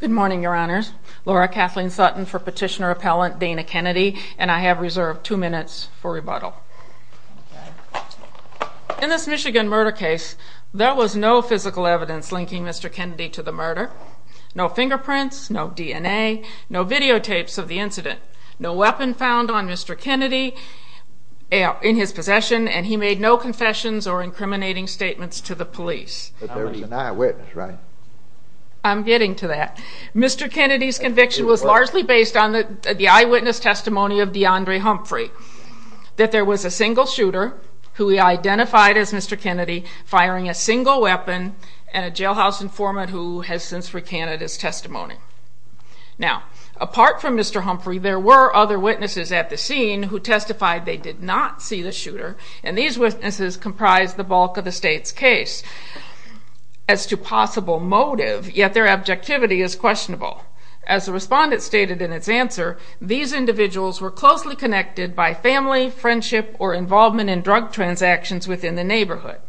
Good morning, Your Honors. Laura Kathleen Sutton for Petitioner Appellant Dana Kennedy, and I have reserved two minutes for rebuttal. In this Michigan murder case, there was no physical evidence linking Mr. Kennedy to the murder. No fingerprints, no DNA, no videotapes of the incident, no weapon found on Mr. Kennedy in his possession, and he made no confessions or incriminating statements to the police. But there was an eyewitness, right? I'm getting to that. Mr. Kennedy's conviction was largely based on the eyewitness testimony of DeAndre Humphrey, that there was a single shooter, who he identified as Mr. Kennedy, firing a single weapon, and a jailhouse informant who has since recanted his testimony. Now, apart from Mr. Humphrey, there were other witnesses at the scene who testified they did not see the shooter, and these witnesses comprised the bulk of the state's case. As to possible motive, yet their objectivity is questionable. As the respondent stated in its answer, these individuals were closely connected by family, friendship, or involvement in drug transactions within the neighborhood.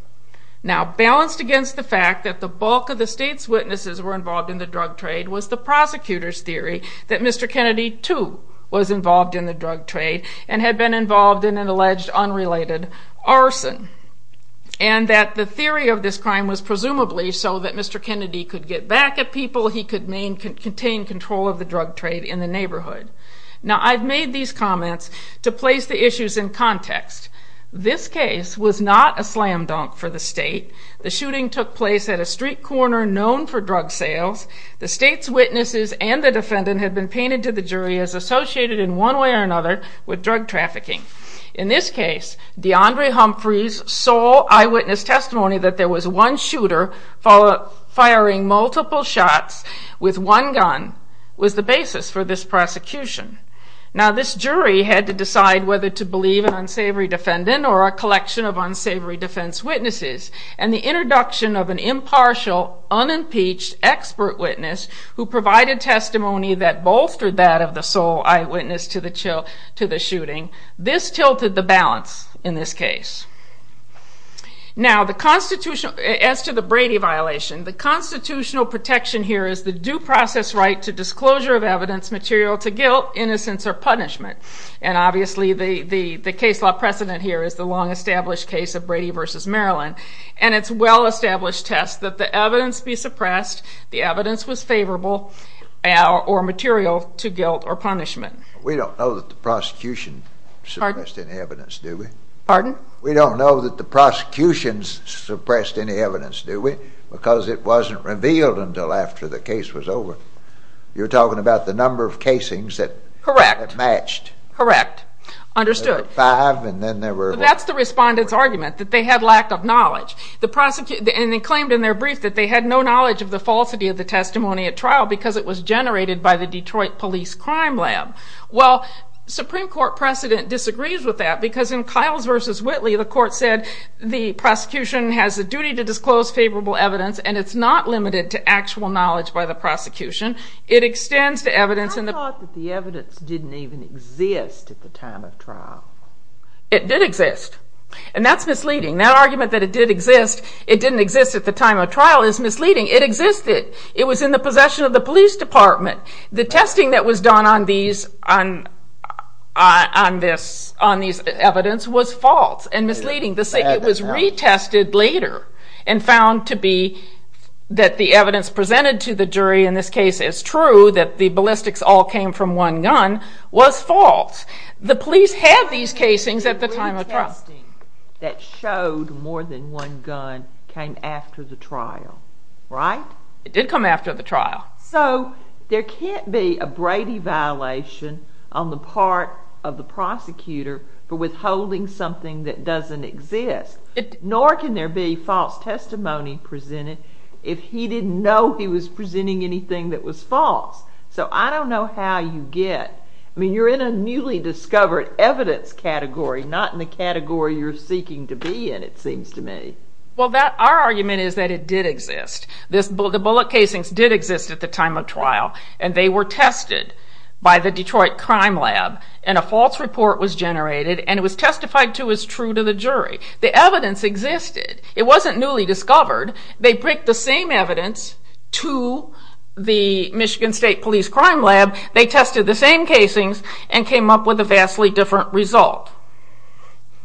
Now, balanced against the fact that the bulk of the state's witnesses were involved in the drug trade was the prosecutor's theory that Mr. Kennedy, too, was involved in the drug trade and had been involved in an alleged unrelated arson, and that the theory of this crime was presumably so that Mr. Kennedy could get back at people, he could maintain control of the drug trade in the neighborhood. Now, I've made these comments to place the issues in context. This case was not a slam dunk for the state. The shooting took place at a street corner known for drug sales. The state's witnesses and the defendant had been painted to the jury as associated in one way or another with drug trafficking. In this case, DeAndre Humphrey's sole eyewitness testimony that there was one shooter firing multiple shots with one gun was the basis for this prosecution. Now, this jury had to decide whether to believe an unsavory defendant or a collection of unsavory defense witnesses, and the introduction of an impartial, unimpeached expert witness who provided testimony that bolstered that of the sole eyewitness to the shooting. This tilted the balance in this case. Now, as to the Brady violation, the constitutional protection here is the due process right to disclosure of evidence material to guilt, innocence, or punishment, and obviously the case law precedent here is the long-established case of Brady v. Maryland and its well-established test that the evidence be suppressed, the evidence was favorable or material to guilt or punishment. We don't know that the prosecution suppressed any evidence, do we? Pardon? We don't know that the prosecution suppressed any evidence, do we? Because it wasn't revealed until after the case was over. You're talking about the number of casings that matched. Correct. Understood. That's the respondent's argument, that they had lack of knowledge. And they claimed in their brief that they had no knowledge of the falsity of the testimony at trial because it was generated by the Detroit Police Crime Lab. Well, Supreme Court precedent disagrees with that because in Kiles v. Whitley, the court said the prosecution has a duty to disclose favorable evidence and it's not limited to actual knowledge by the prosecution. It extends to evidence in the... I thought that the evidence didn't even exist at the time of trial. It did exist. And that's misleading. That argument that it did exist, it didn't exist at the time of trial is misleading. It existed. It was in the possession of the police department. The testing that was done on these evidence was false and misleading. It was retested later and found to be that the evidence presented to the jury in this case is true, that the ballistics all came from one gun, was false. The police had these casings at the time of trial. The retesting that showed more than one gun came after the trial, right? It did come after the trial. So, there can't be a Brady violation on the part of the prosecutor for withholding something that doesn't exist. Nor can there be false testimony presented if he didn't know he was presenting anything that was false. So, I don't know how you get... I mean, you're in a newly discovered evidence category, not in the category you're seeking to be in, it seems to me. Well, our argument is that it did exist. The bullet casings did exist at the time of trial and they were tested by the Detroit Crime Lab and a false report was generated and it was testified to as true to the jury. The evidence existed. It wasn't newly discovered. They bricked the same evidence to the Michigan State Police Crime Lab. They tested the same casings and came up with a vastly different result.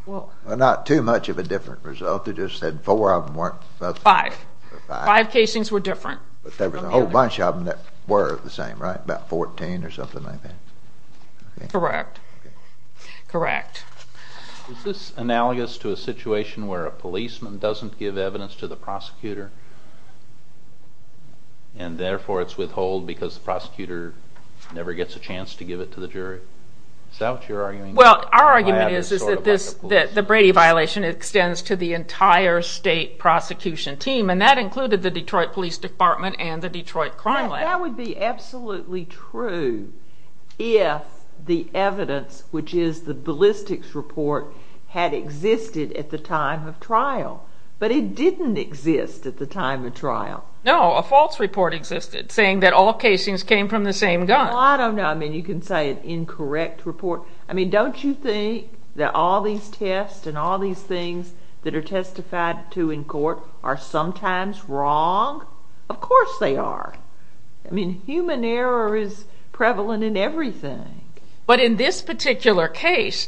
Well, not too much of a different result. They just said four of them weren't... Five. Five casings were different. But there was a whole bunch of them that were the same, right? About 14 or something like that. Correct. Correct. Is this analogous to a situation where a policeman doesn't give evidence to the prosecutor and therefore it's withheld because the prosecutor never gets a chance to give it to the jury? Is that what you're arguing? Well, our argument is that the Brady violation extends to the entire state prosecution team and that included the Detroit Police Department and the Detroit Crime Lab. That would be absolutely true if the evidence, which is the ballistics report, had existed at the time of trial, but it didn't exist at the time of trial. No, a false report existed saying that all casings came from the same gun. Well, I don't know. I mean, you can say an incorrect report. I mean, don't you think that all these tests and all these things that are testified to in court are sometimes wrong? Of course they are. I mean, human error is prevalent in everything. But in this particular case,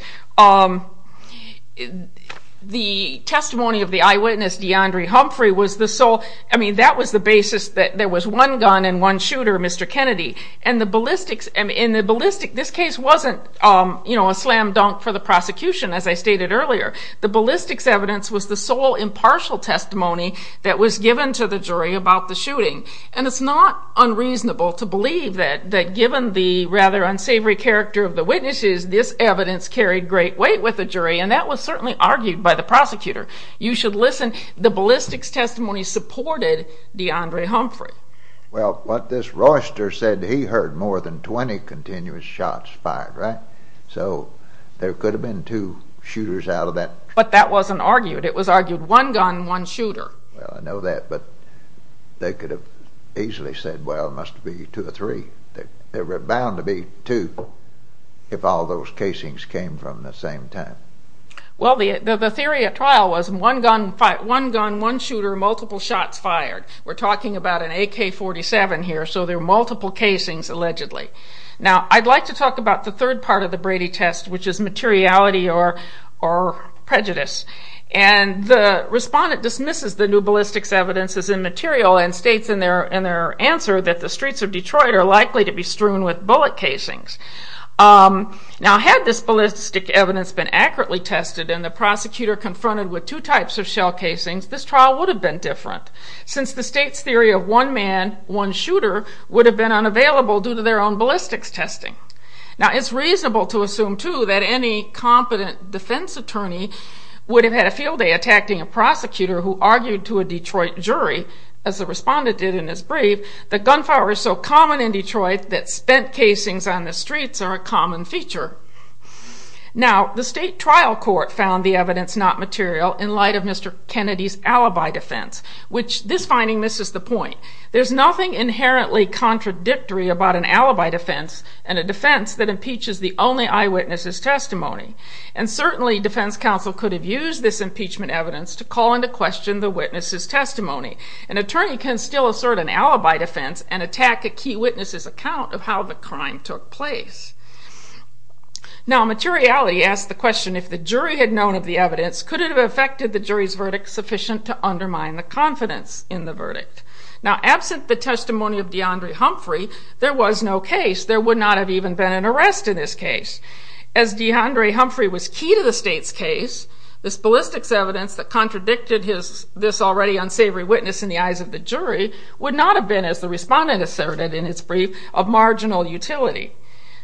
the testimony of the eyewitness, DeAndre Humphrey, was the sole... I mean, that was the basis that there was one gun and one shooter, Mr. Kennedy. And the ballistics... This case wasn't a slam dunk for the prosecution, as I stated earlier. The ballistics evidence was the sole impartial testimony that was given to the jury about the shooting. And it's not unreasonable to believe that given the rather unsavory character of the witnesses, this evidence carried great weight with the jury, and that was certainly argued by the prosecutor. You should listen. The ballistics testimony supported DeAndre Humphrey. Well, what this Royster said, he heard more than 20 continuous shots fired, right? So there could have been two shooters out of that. But that wasn't argued. It was argued one gun, one shooter. Well, I know that, but they could have easily said, well, it must be two or three. There were bound to be two if all those casings came from the same time. Well, the theory at trial was one gun, one shooter, multiple shots fired. We're talking about an AK-47 here, so there are multiple casings, allegedly. Now, I'd like to talk about the third part of the Brady test, which is materiality or prejudice. And the respondent dismisses the new ballistics evidence as immaterial and states in their answer that the streets of Detroit are likely to be strewn with bullet casings. Now, had this ballistics evidence been accurately tested and the prosecutor confronted with two types of shell casings, this trial would have been different, since the state's theory of one man, one shooter would have been unavailable due to their own ballistics testing. Now, it's reasonable to assume, too, that any competent defense attorney would have had a field day attacking a prosecutor who argued to a Detroit jury, as the respondent did in his brief, that gunfire was so common in Detroit that spent casings on the streets are a common feature. Now, the state trial court found the evidence not material in light of Mr. Kennedy's alibi defense, which this finding misses the point. There's nothing inherently contradictory about an alibi defense and a defense that impeaches the only eyewitness's testimony. And certainly, defense counsel could have used this impeachment evidence to call into question the witness's testimony. An attorney can still assert an alibi defense and attack a key witness's account of how the crime took place. Now, materiality asks the question, if the jury had known of the evidence, could it have affected the jury's verdict sufficient to undermine the confidence in the verdict? Now, absent the testimony of DeAndre Humphrey, there was no case. There would not have even been an arrest in this case. As DeAndre Humphrey was key to the state's case, this ballistics evidence that contradicted this already unsavory witness in the eyes of the jury would not have been, as the respondent asserted in his brief, of marginal utility.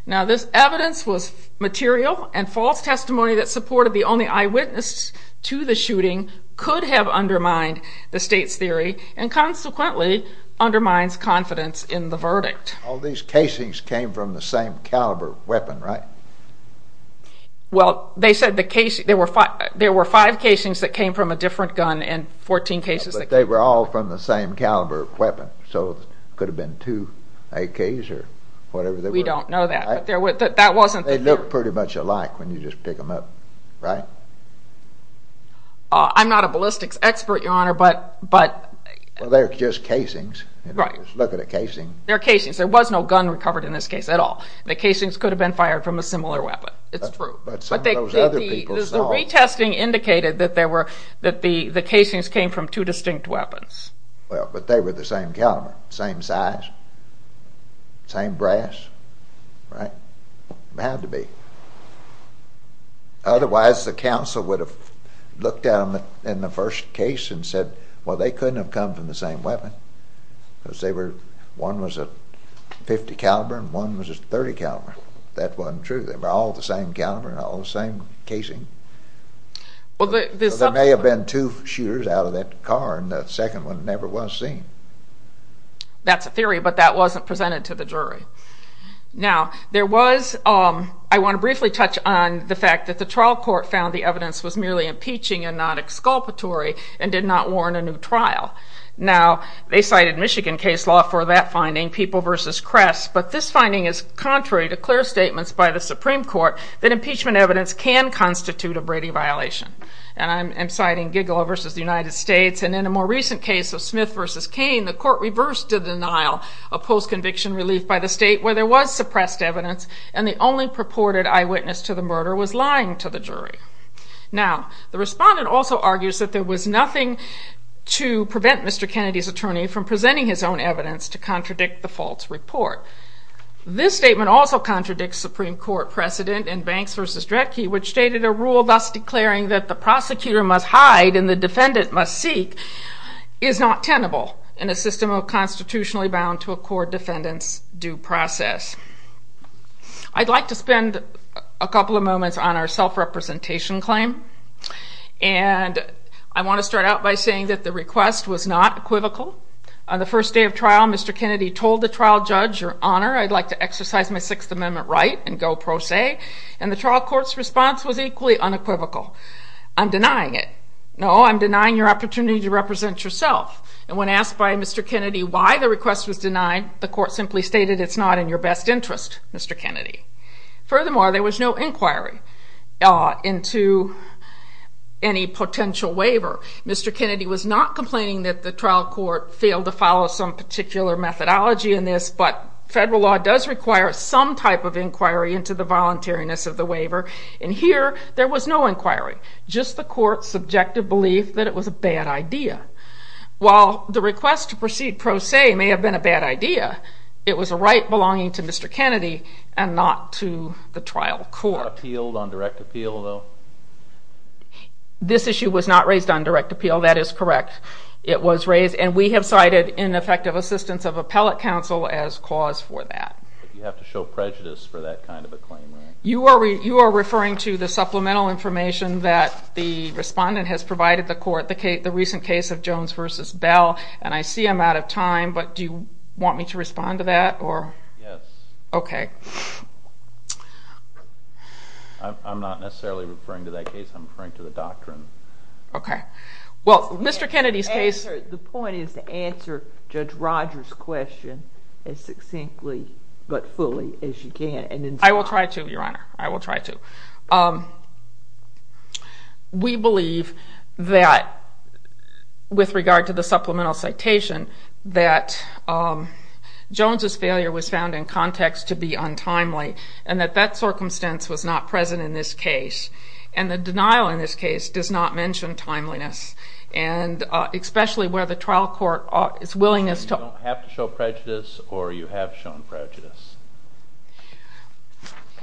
Now, this evidence was material, and false testimony that supported the only eyewitness to the shooting could have undermined the state's theory and consequently undermines confidence in the verdict. All these casings came from the same caliber weapon, right? Well, they said there were five casings that came from a different gun and 14 cases that came from... They look pretty much alike when you just pick them up, right? I'm not a ballistics expert, Your Honor, but... Well, they're just casings. Right. Look at a casing. They're casings. There was no gun recovered in this case at all. The casings could have been fired from a similar weapon. It's true. But some of those other people saw... The retesting indicated that the casings came from two distinct weapons. Well, but they were the same caliber, same size, same brass, right? They had to be. Otherwise, the counsel would have looked at them in the first case and said, well, they couldn't have come from the same weapon, because one was a .50 caliber and one was a .30 caliber. That wasn't true. They were all the same caliber and all the same casing. There may have been two shooters out of that car, and the second one never was seen. That's a theory, but that wasn't presented to the jury. Now, there was... I want to briefly touch on the fact that the trial court found the evidence was merely impeaching and not exculpatory and did not warrant a new trial. Now, they cited Michigan case law for that finding, People v. Kress, but this finding is contrary to clear statements by the Supreme Court that impeachment evidence can constitute a Brady violation. And I'm citing Gigola v. United States, and in a more recent case of Smith v. Cain, the court reversed the denial of post-conviction relief by the state where there was suppressed evidence and the only purported eyewitness to the murder was lying to the jury. Now, the respondent also argues that there was nothing to prevent Mr. Kennedy's attorney from presenting his own evidence to contradict the false report. This statement also contradicts Supreme Court precedent in Banks v. Dredke, which stated a rule thus declaring that the prosecutor must hide and the defendant must seek is not tenable in a system constitutionally bound to accord defendants due process. I'd like to spend a couple of moments on our self-representation claim, and I want to start out by saying that the request was not equivocal. On the first day of trial, Mr. Kennedy told the trial judge, Your Honor, I'd like to exercise my Sixth Amendment right and go pro se, and the trial court's response was equally unequivocal. I'm denying it. No, I'm denying your opportunity to represent yourself. And when asked by Mr. Kennedy why the request was denied, the court simply stated it's not in your best interest, Mr. Kennedy. Furthermore, there was no inquiry into any potential waiver. Mr. Kennedy was not complaining that the trial court failed to follow some particular methodology in this, but federal law does require some type of inquiry into the voluntariness of the waiver. And here, there was no inquiry, just the court's subjective belief that it was a bad idea. While the request to proceed pro se may have been a bad idea, it was a right belonging to Mr. Kennedy and not to the trial court. Not appealed on direct appeal, though? This issue was not raised on direct appeal, that is correct. It was raised, and we have cited ineffective assistance of appellate counsel as cause for that. But you have to show prejudice for that kind of a claim, right? You are referring to the supplemental information that the respondent has provided the court, the recent case of Jones v. Bell, and I see I'm out of time, but do you want me to respond to that? Yes. Okay. I'm not necessarily referring to that case. I'm referring to the doctrine. Okay. Well, Mr. Kennedy's case... The point is to answer Judge Rogers' question as succinctly but fully as you can. I will try to, Your Honor. I will try to. We believe that with regard to the supplemental citation, that Jones' failure was found in context to be untimely and that that circumstance was not present in this case. And the denial in this case does not mention timeliness, and especially where the trial court is willing to... So you don't have to show prejudice or you have shown prejudice?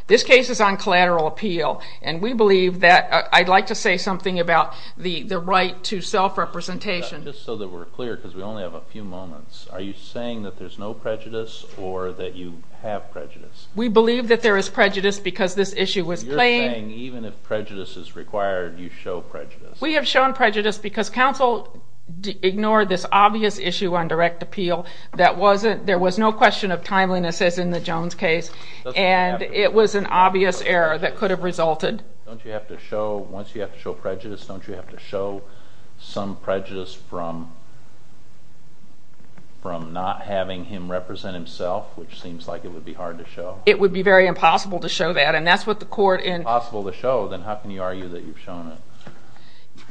This case is on collateral appeal, and we believe that I'd like to say something about the right to self-representation. Just so that we're clear, because we only have a few moments, are you saying that there's no prejudice or that you have prejudice? We believe that there is prejudice because this issue was plain. You're saying even if prejudice is required, you show prejudice? We have shown prejudice because counsel ignored this obvious issue on direct appeal. There was no question of timeliness, as in the Jones case, and it was an obvious error that could have resulted. Don't you have to show, once you have to show prejudice, don't you have to show some prejudice from not having him represent himself, which seems like it would be hard to show? It would be very impossible to show that, and that's what the court in... If it's impossible to show, then how can you argue that you've shown it?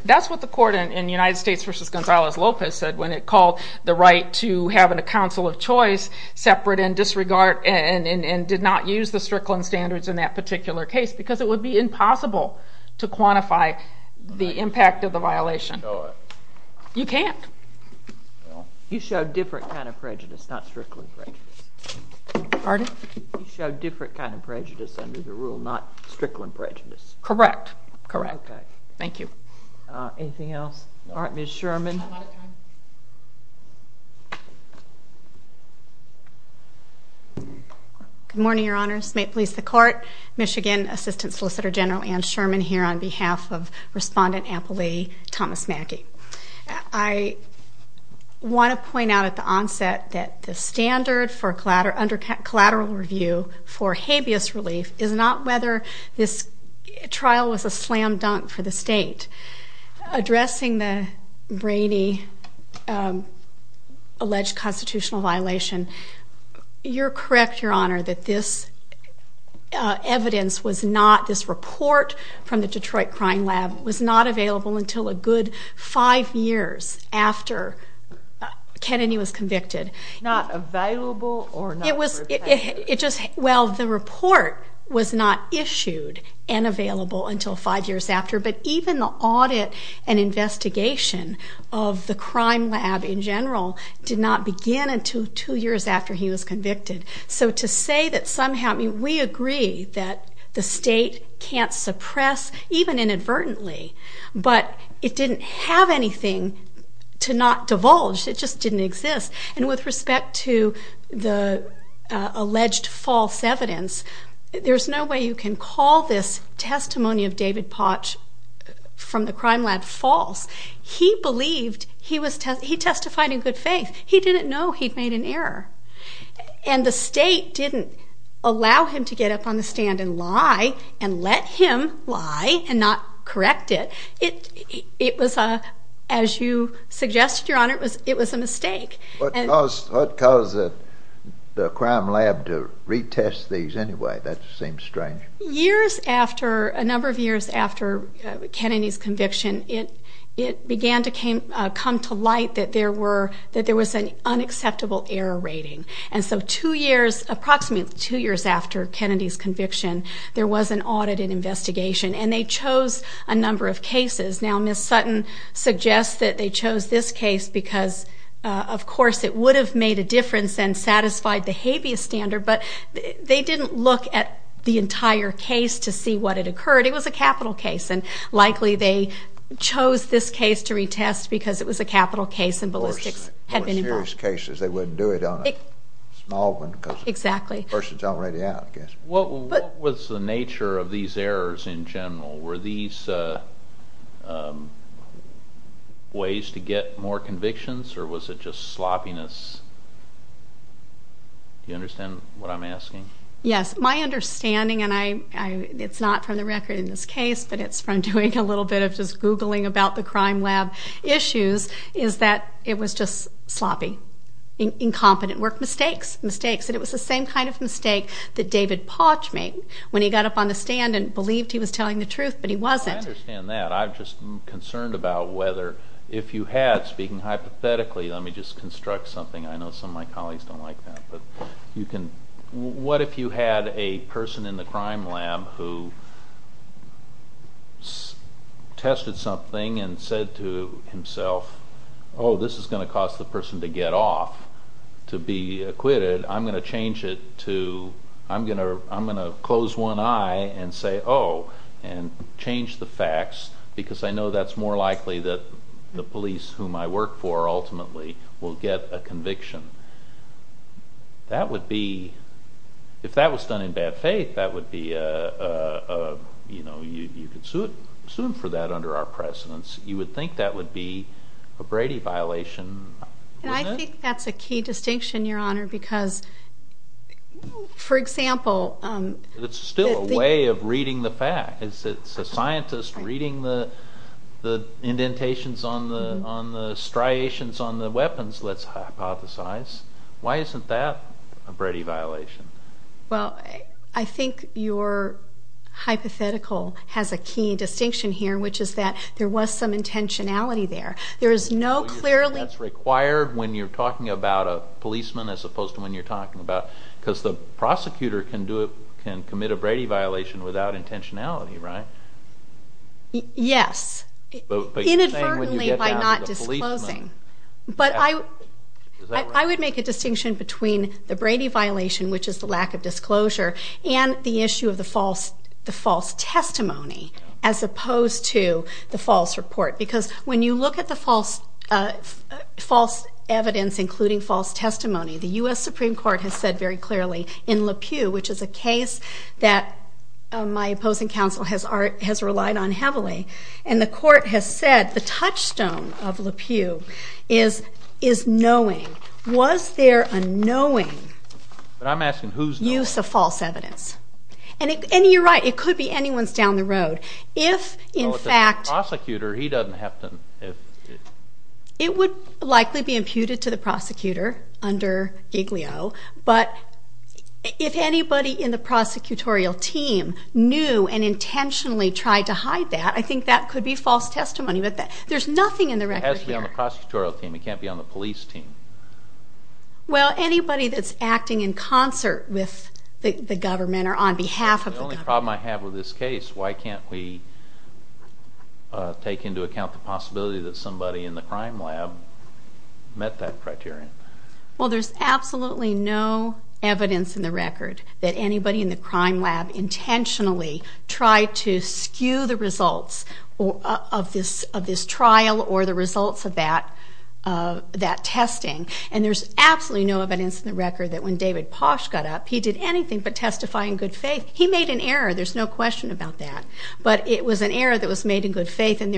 That's what the court in United States v. Gonzales-Lopez said when it called the right to have a counsel of choice separate and disregard and did not use the Strickland standards in that particular case, because it would be impossible to quantify the impact of the violation. You can't. You showed different kind of prejudice, not Strickland prejudice. Pardon? You showed different kind of prejudice under the rule, not Strickland prejudice. Correct, correct. Thank you. Anything else? All right, Ms. Sherman. Good morning, Your Honors. May it please the Court. Michigan Assistant Solicitor General Anne Sherman here on behalf of Respondent Apple Lee, Thomas Mackey. I want to point out at the onset that the standard for collateral review for habeas relief is not whether this trial was a slam dunk for the state. Addressing the brainy alleged constitutional violation, you're correct, Your Honor, that this evidence was not, this report from the Detroit Crime Lab, was not available until a good five years after Kennedy was convicted. Not available or not prepared? Well, the report was not issued and available until five years after, but even the audit and investigation of the Crime Lab in general did not begin until two years after he was convicted. So to say that somehow we agree that the state can't suppress, even inadvertently, but it didn't have anything to not divulge. It just didn't exist. And with respect to the alleged false evidence, there's no way you can call this testimony of David Potch from the Crime Lab false. He believed he testified in good faith. He didn't know he'd made an error. And the state didn't allow him to get up on the stand and lie and let him lie and not correct it. It was, as you suggested, Your Honor, it was a mistake. What caused the Crime Lab to retest these anyway? That seems strange. Years after, a number of years after Kennedy's conviction, it began to come to light that there was an unacceptable error rating. And so two years, approximately two years after Kennedy's conviction, there was an audit and investigation, and they chose a number of cases. Now, Ms. Sutton suggests that they chose this case because, of course, it would have made a difference and satisfied the habeas standard, but they didn't look at the entire case to see what had occurred. It was a capital case, and likely they chose this case to retest because it was a capital case and ballistics had been involved. Of course, serious cases, they wouldn't do it on a small one because the person's already out, I guess. What was the nature of these errors in general? Were these ways to get more convictions, or was it just sloppiness? Do you understand what I'm asking? Yes. My understanding, and it's not from the record in this case, but it's from doing a little bit of just Googling about the Crime Lab issues, is that it was just sloppy, incompetent work, mistakes, mistakes. And it was the same kind of mistake that David Potch made when he got up on the stand and believed he was telling the truth, but he wasn't. I understand that. I'm just concerned about whether if you had, speaking hypothetically, let me just construct something. I know some of my colleagues don't like that, but you can. What if you had a person in the Crime Lab who tested something and said to himself, oh, this is going to cause the person to get off, to be acquitted. I'm going to change it to I'm going to close one eye and say, oh, and change the facts because I know that's more likely that the police, whom I work for ultimately, will get a conviction. That would be, if that was done in bad faith, that would be a, you know, you could sue him for that under our precedence. You would think that would be a Brady violation. I think that's a key distinction, Your Honor, because, for example. It's still a way of reading the facts. It's a scientist reading the indentations on the striations on the weapons, let's hypothesize. Why isn't that a Brady violation? Well, I think your hypothetical has a key distinction here, which is that there was some intentionality there. There is no clearly. That's required when you're talking about a policeman as opposed to when you're talking about. Because the prosecutor can do it, can commit a Brady violation without intentionality, right? Yes. Inadvertently by not disclosing. But I would make a distinction between the Brady violation, which is the lack of disclosure, and the issue of the false testimony as opposed to the false report. Because when you look at the false evidence, including false testimony, the U.S. Supreme Court has said very clearly in Lapew, which is a case that my opposing counsel has relied on heavily, and the court has said the touchstone of Lapew is knowing. Was there a knowing use of false evidence? And you're right, it could be anyone's down the road. Well, if it's a prosecutor, he doesn't have to. It would likely be imputed to the prosecutor under Giglio, but if anybody in the prosecutorial team knew and intentionally tried to hide that, I think that could be false testimony. There's nothing in the record here. It has to be on the prosecutorial team. It can't be on the police team. Well, anybody that's acting in concert with the government or on behalf of the government. The problem I have with this case, why can't we take into account the possibility that somebody in the crime lab met that criterion? Well, there's absolutely no evidence in the record that anybody in the crime lab intentionally tried to skew the results of this trial or the results of that testing. And there's absolutely no evidence in the record that when David Posh got up, he did anything but testify in good faith. He made an error. There's no question about that. But it was an error that was made in good faith, and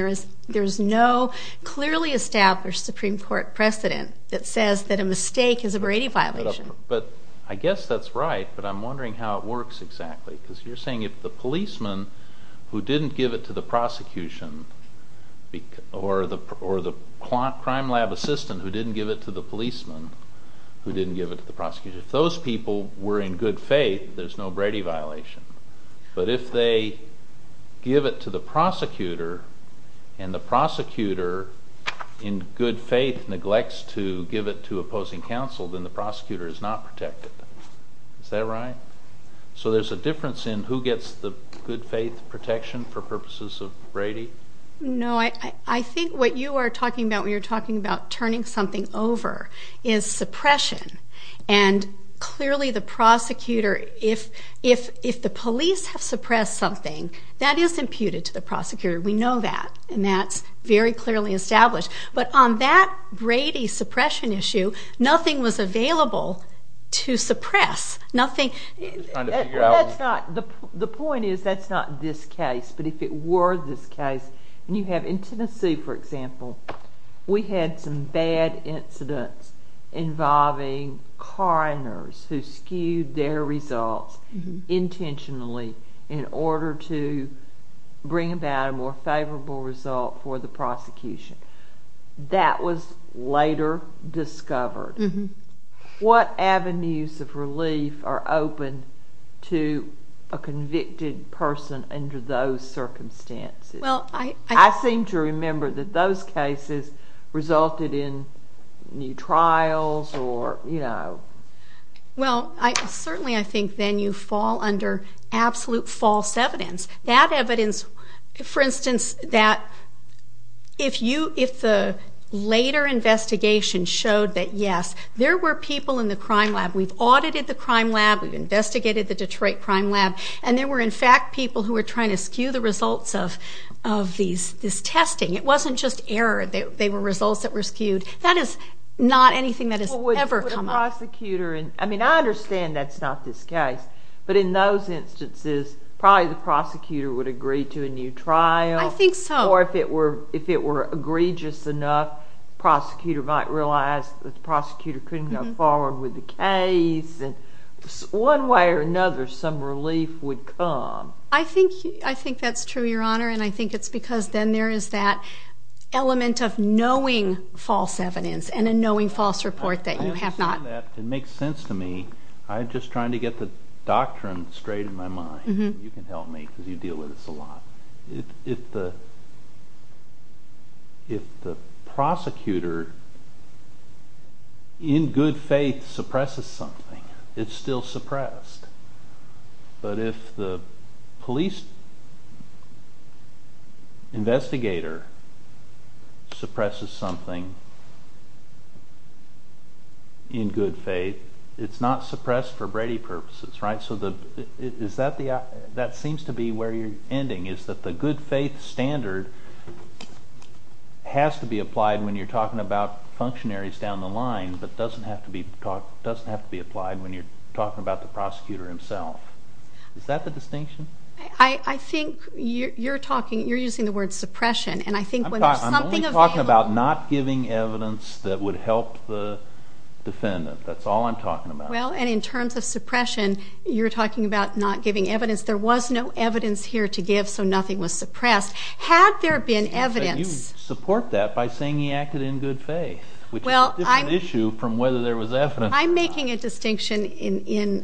there is no clearly established Supreme Court precedent that says that a mistake is a Brady violation. But I guess that's right, but I'm wondering how it works exactly, because you're saying if the policeman who didn't give it to the prosecution or the crime lab assistant who didn't give it to the policeman who didn't give it to the prosecution, if those people were in good faith, there's no Brady violation. But if they give it to the prosecutor, and the prosecutor in good faith neglects to give it to opposing counsel, then the prosecutor is not protected. Is that right? So there's a difference in who gets the good faith protection for purposes of Brady? No, I think what you are talking about when you're talking about turning something over is suppression. And clearly the prosecutor, if the police have suppressed something, that is imputed to the prosecutor. We know that, and that's very clearly established. But on that Brady suppression issue, nothing was available to suppress. Nothing. The point is that's not this case. But if it were this case, and you have in Tennessee, for example, we had some bad incidents involving coroners who skewed their results intentionally in order to bring about a more favorable result for the prosecution. That was later discovered. What avenues of relief are open to a convicted person under those circumstances? I seem to remember that those cases resulted in new trials or, you know. Well, certainly I think then you fall under absolute false evidence. That evidence, for instance, that if the later investigation showed that, yes, there were people in the crime lab, we've audited the crime lab, we've investigated the Detroit crime lab, and there were, in fact, people who were trying to skew the results of this testing. It wasn't just error. They were results that were skewed. That is not anything that has ever come up. I mean, I understand that's not this case. But in those instances, probably the prosecutor would agree to a new trial. I think so. Or if it were egregious enough, the prosecutor might realize that the prosecutor couldn't go forward with the case. One way or another, some relief would come. I think that's true, Your Honor, and I think it's because then there is that element of knowing false evidence and a knowing false report that you have not. I understand that. It makes sense to me. I'm just trying to get the doctrine straight in my mind. You can help me because you deal with this a lot. If the prosecutor in good faith suppresses something, it's still suppressed. But if the police investigator suppresses something in good faith, it's not suppressed for Brady purposes, right? That seems to be where you're ending, is that the good faith standard has to be applied when you're talking about functionaries down the line, but doesn't have to be applied when you're talking about the prosecutor himself. Is that the distinction? I think you're using the word suppression. I'm only talking about not giving evidence that would help the defendant. That's all I'm talking about. Well, and in terms of suppression, you're talking about not giving evidence. There was no evidence here to give, so nothing was suppressed. Had there been evidence? You support that by saying he acted in good faith, which is a different issue from whether there was evidence. I'm making a distinction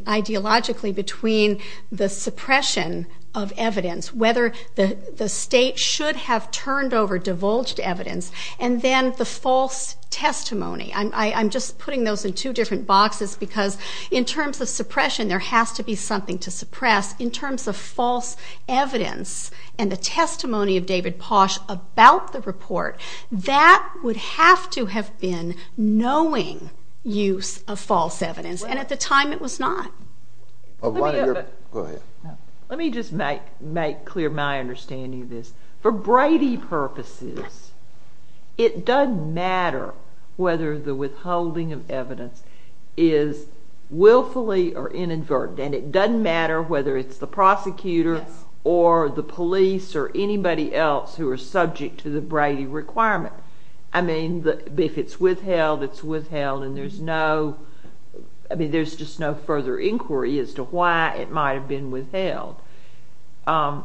ideologically between the suppression of evidence, whether the state should have turned over divulged evidence, and then the false testimony. I'm just putting those in two different boxes because in terms of suppression, there has to be something to suppress. In terms of false evidence and the testimony of David Posh about the report, that would have to have been knowing use of false evidence, and at the time it was not. Go ahead. Let me just make clear my understanding of this. For Brady purposes, it doesn't matter whether the withholding of evidence is willfully or inadvertently, and it doesn't matter whether it's the prosecutor or the police or anybody else who are subject to the Brady requirement. I mean, if it's withheld, it's withheld, and there's just no further inquiry as to why it might have been withheld. For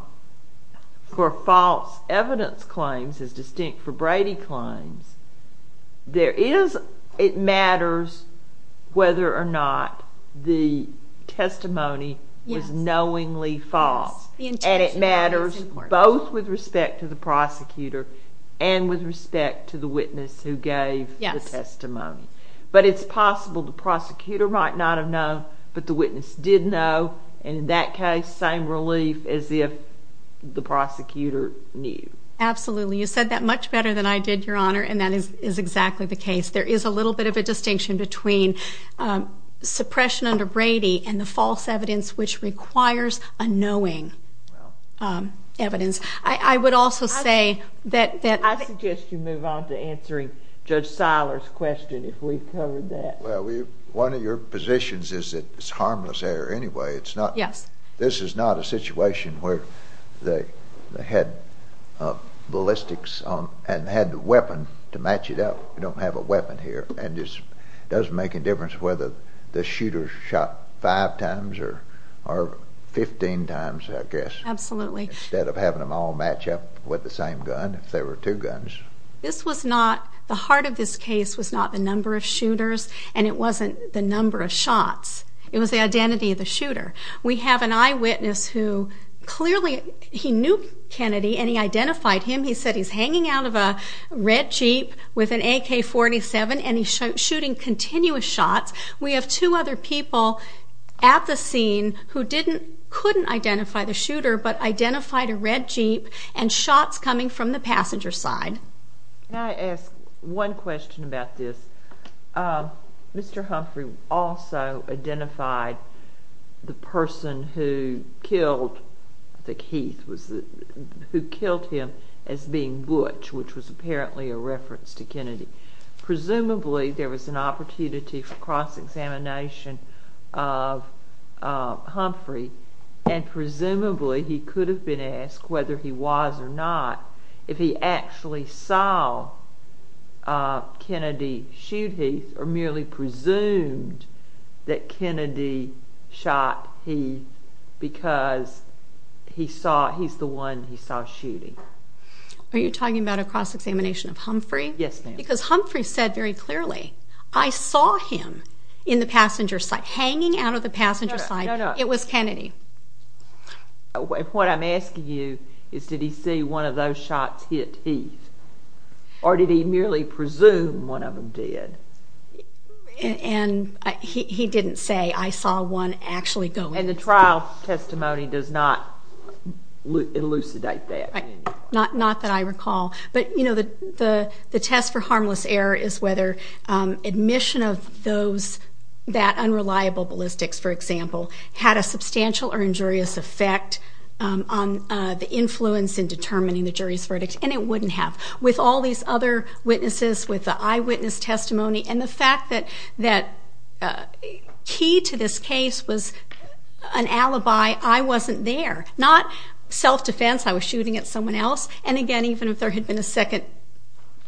false evidence claims, as distinct for Brady claims, it matters whether or not the testimony was knowingly false, and it matters both with respect to the prosecutor and with respect to the witness who gave the testimony. But it's possible the prosecutor might not have known, but the witness did know, and in that case, same relief as if the prosecutor knew. Absolutely. You said that much better than I did, Your Honor, and that is exactly the case. There is a little bit of a distinction between suppression under Brady and the false evidence which requires a knowing evidence. I would also say that— I suggest you move on to answering Judge Seiler's question if we've covered that. Well, one of your positions is that it's harmless error anyway. Yes. This is not a situation where they had ballistics and had the weapon to match it up. We don't have a weapon here, and it doesn't make a difference whether the shooter shot five times or 15 times, I guess. Absolutely. Instead of having them all match up with the same gun, if there were two guns. This was not—the heart of this case was not the number of shooters, and it wasn't the number of shots. It was the identity of the shooter. We have an eyewitness who clearly he knew Kennedy, and he identified him. He said he's hanging out of a red Jeep with an AK-47, and he's shooting continuous shots. We have two other people at the scene who couldn't identify the shooter but identified a red Jeep and shots coming from the passenger side. Can I ask one question about this? Mr. Humphrey also identified the person who killed—I think Heath was the— who killed him as being Butch, which was apparently a reference to Kennedy. Presumably, there was an opportunity for cross-examination of Humphrey, and presumably he could have been asked, whether he was or not, if he actually saw Kennedy shoot Heath or merely presumed that Kennedy shot Heath because he saw—he's the one he saw shooting. Are you talking about a cross-examination of Humphrey? Yes, ma'am. Because Humphrey said very clearly, I saw him in the passenger side, hanging out of the passenger side. No, no. It was Kennedy. What I'm asking you is, did he see one of those shots hit Heath, or did he merely presume one of them did? And he didn't say, I saw one actually go in. And the trial testimony does not elucidate that. Right, not that I recall. But, you know, the test for harmless error is whether admission of those, that unreliable ballistics, for example, had a substantial or injurious effect on the influence in determining the jury's verdict. And it wouldn't have. With all these other witnesses, with the eyewitness testimony, and the fact that key to this case was an alibi, I wasn't there. Not self-defense, I was shooting at someone else. And, again, even if there had been a second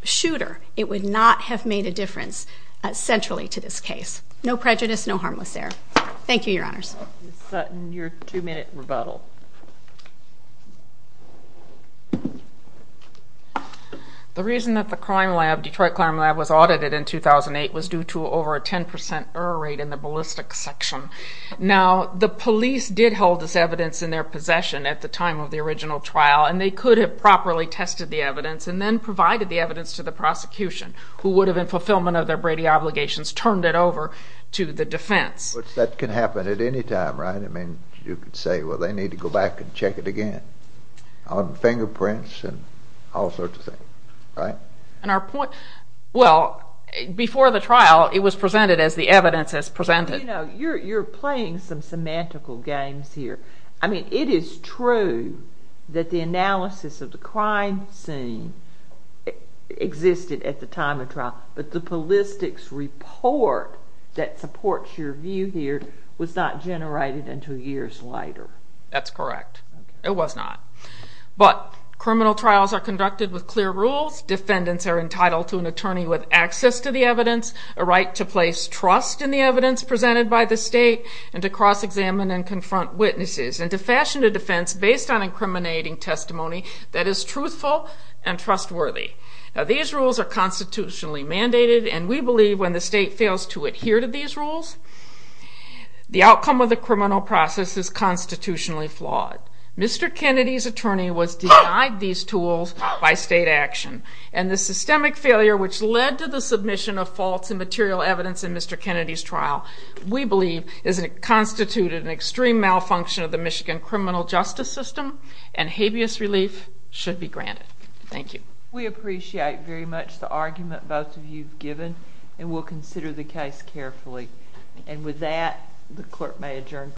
shooter, it would not have made a difference centrally to this case. No prejudice, no harmless error. Thank you, Your Honors. Ms. Sutton, your two-minute rebuttal. The reason that the Detroit Crime Lab was audited in 2008 was due to over a 10% error rate in the ballistics section. Now, the police did hold this evidence in their possession at the time of the original trial, and they could have properly tested the evidence and then provided the evidence to the prosecution, who would have, in fulfillment of their Brady obligations, turned it over to the defense. But that can happen at any time, right? I mean, you could say, well, they need to go back and check it again, on fingerprints and all sorts of things, right? And our point, well, before the trial, it was presented as the evidence has presented. You know, you're playing some semantical games here. I mean, it is true that the analysis of the crime scene existed at the time of trial, but the ballistics report that supports your view here was not generated until years later. That's correct. It was not. But criminal trials are conducted with clear rules. Defendants are entitled to an attorney with access to the evidence, a right to place trust in the evidence presented by the state, and to cross-examine and confront witnesses, and to fashion a defense based on incriminating testimony that is truthful and trustworthy. Now, these rules are constitutionally mandated, and we believe when the state fails to adhere to these rules, the outcome of the criminal process is constitutionally flawed. Mr. Kennedy's attorney was denied these tools by state action, and the systemic failure which led to the submission of faults and material evidence in Mr. Kennedy's trial, we believe constituted an extreme malfunction of the Michigan criminal justice system, and habeas relief should be granted. Thank you. We appreciate very much the argument both of you have given, and we'll consider the case carefully. And with that, the clerk may adjourn.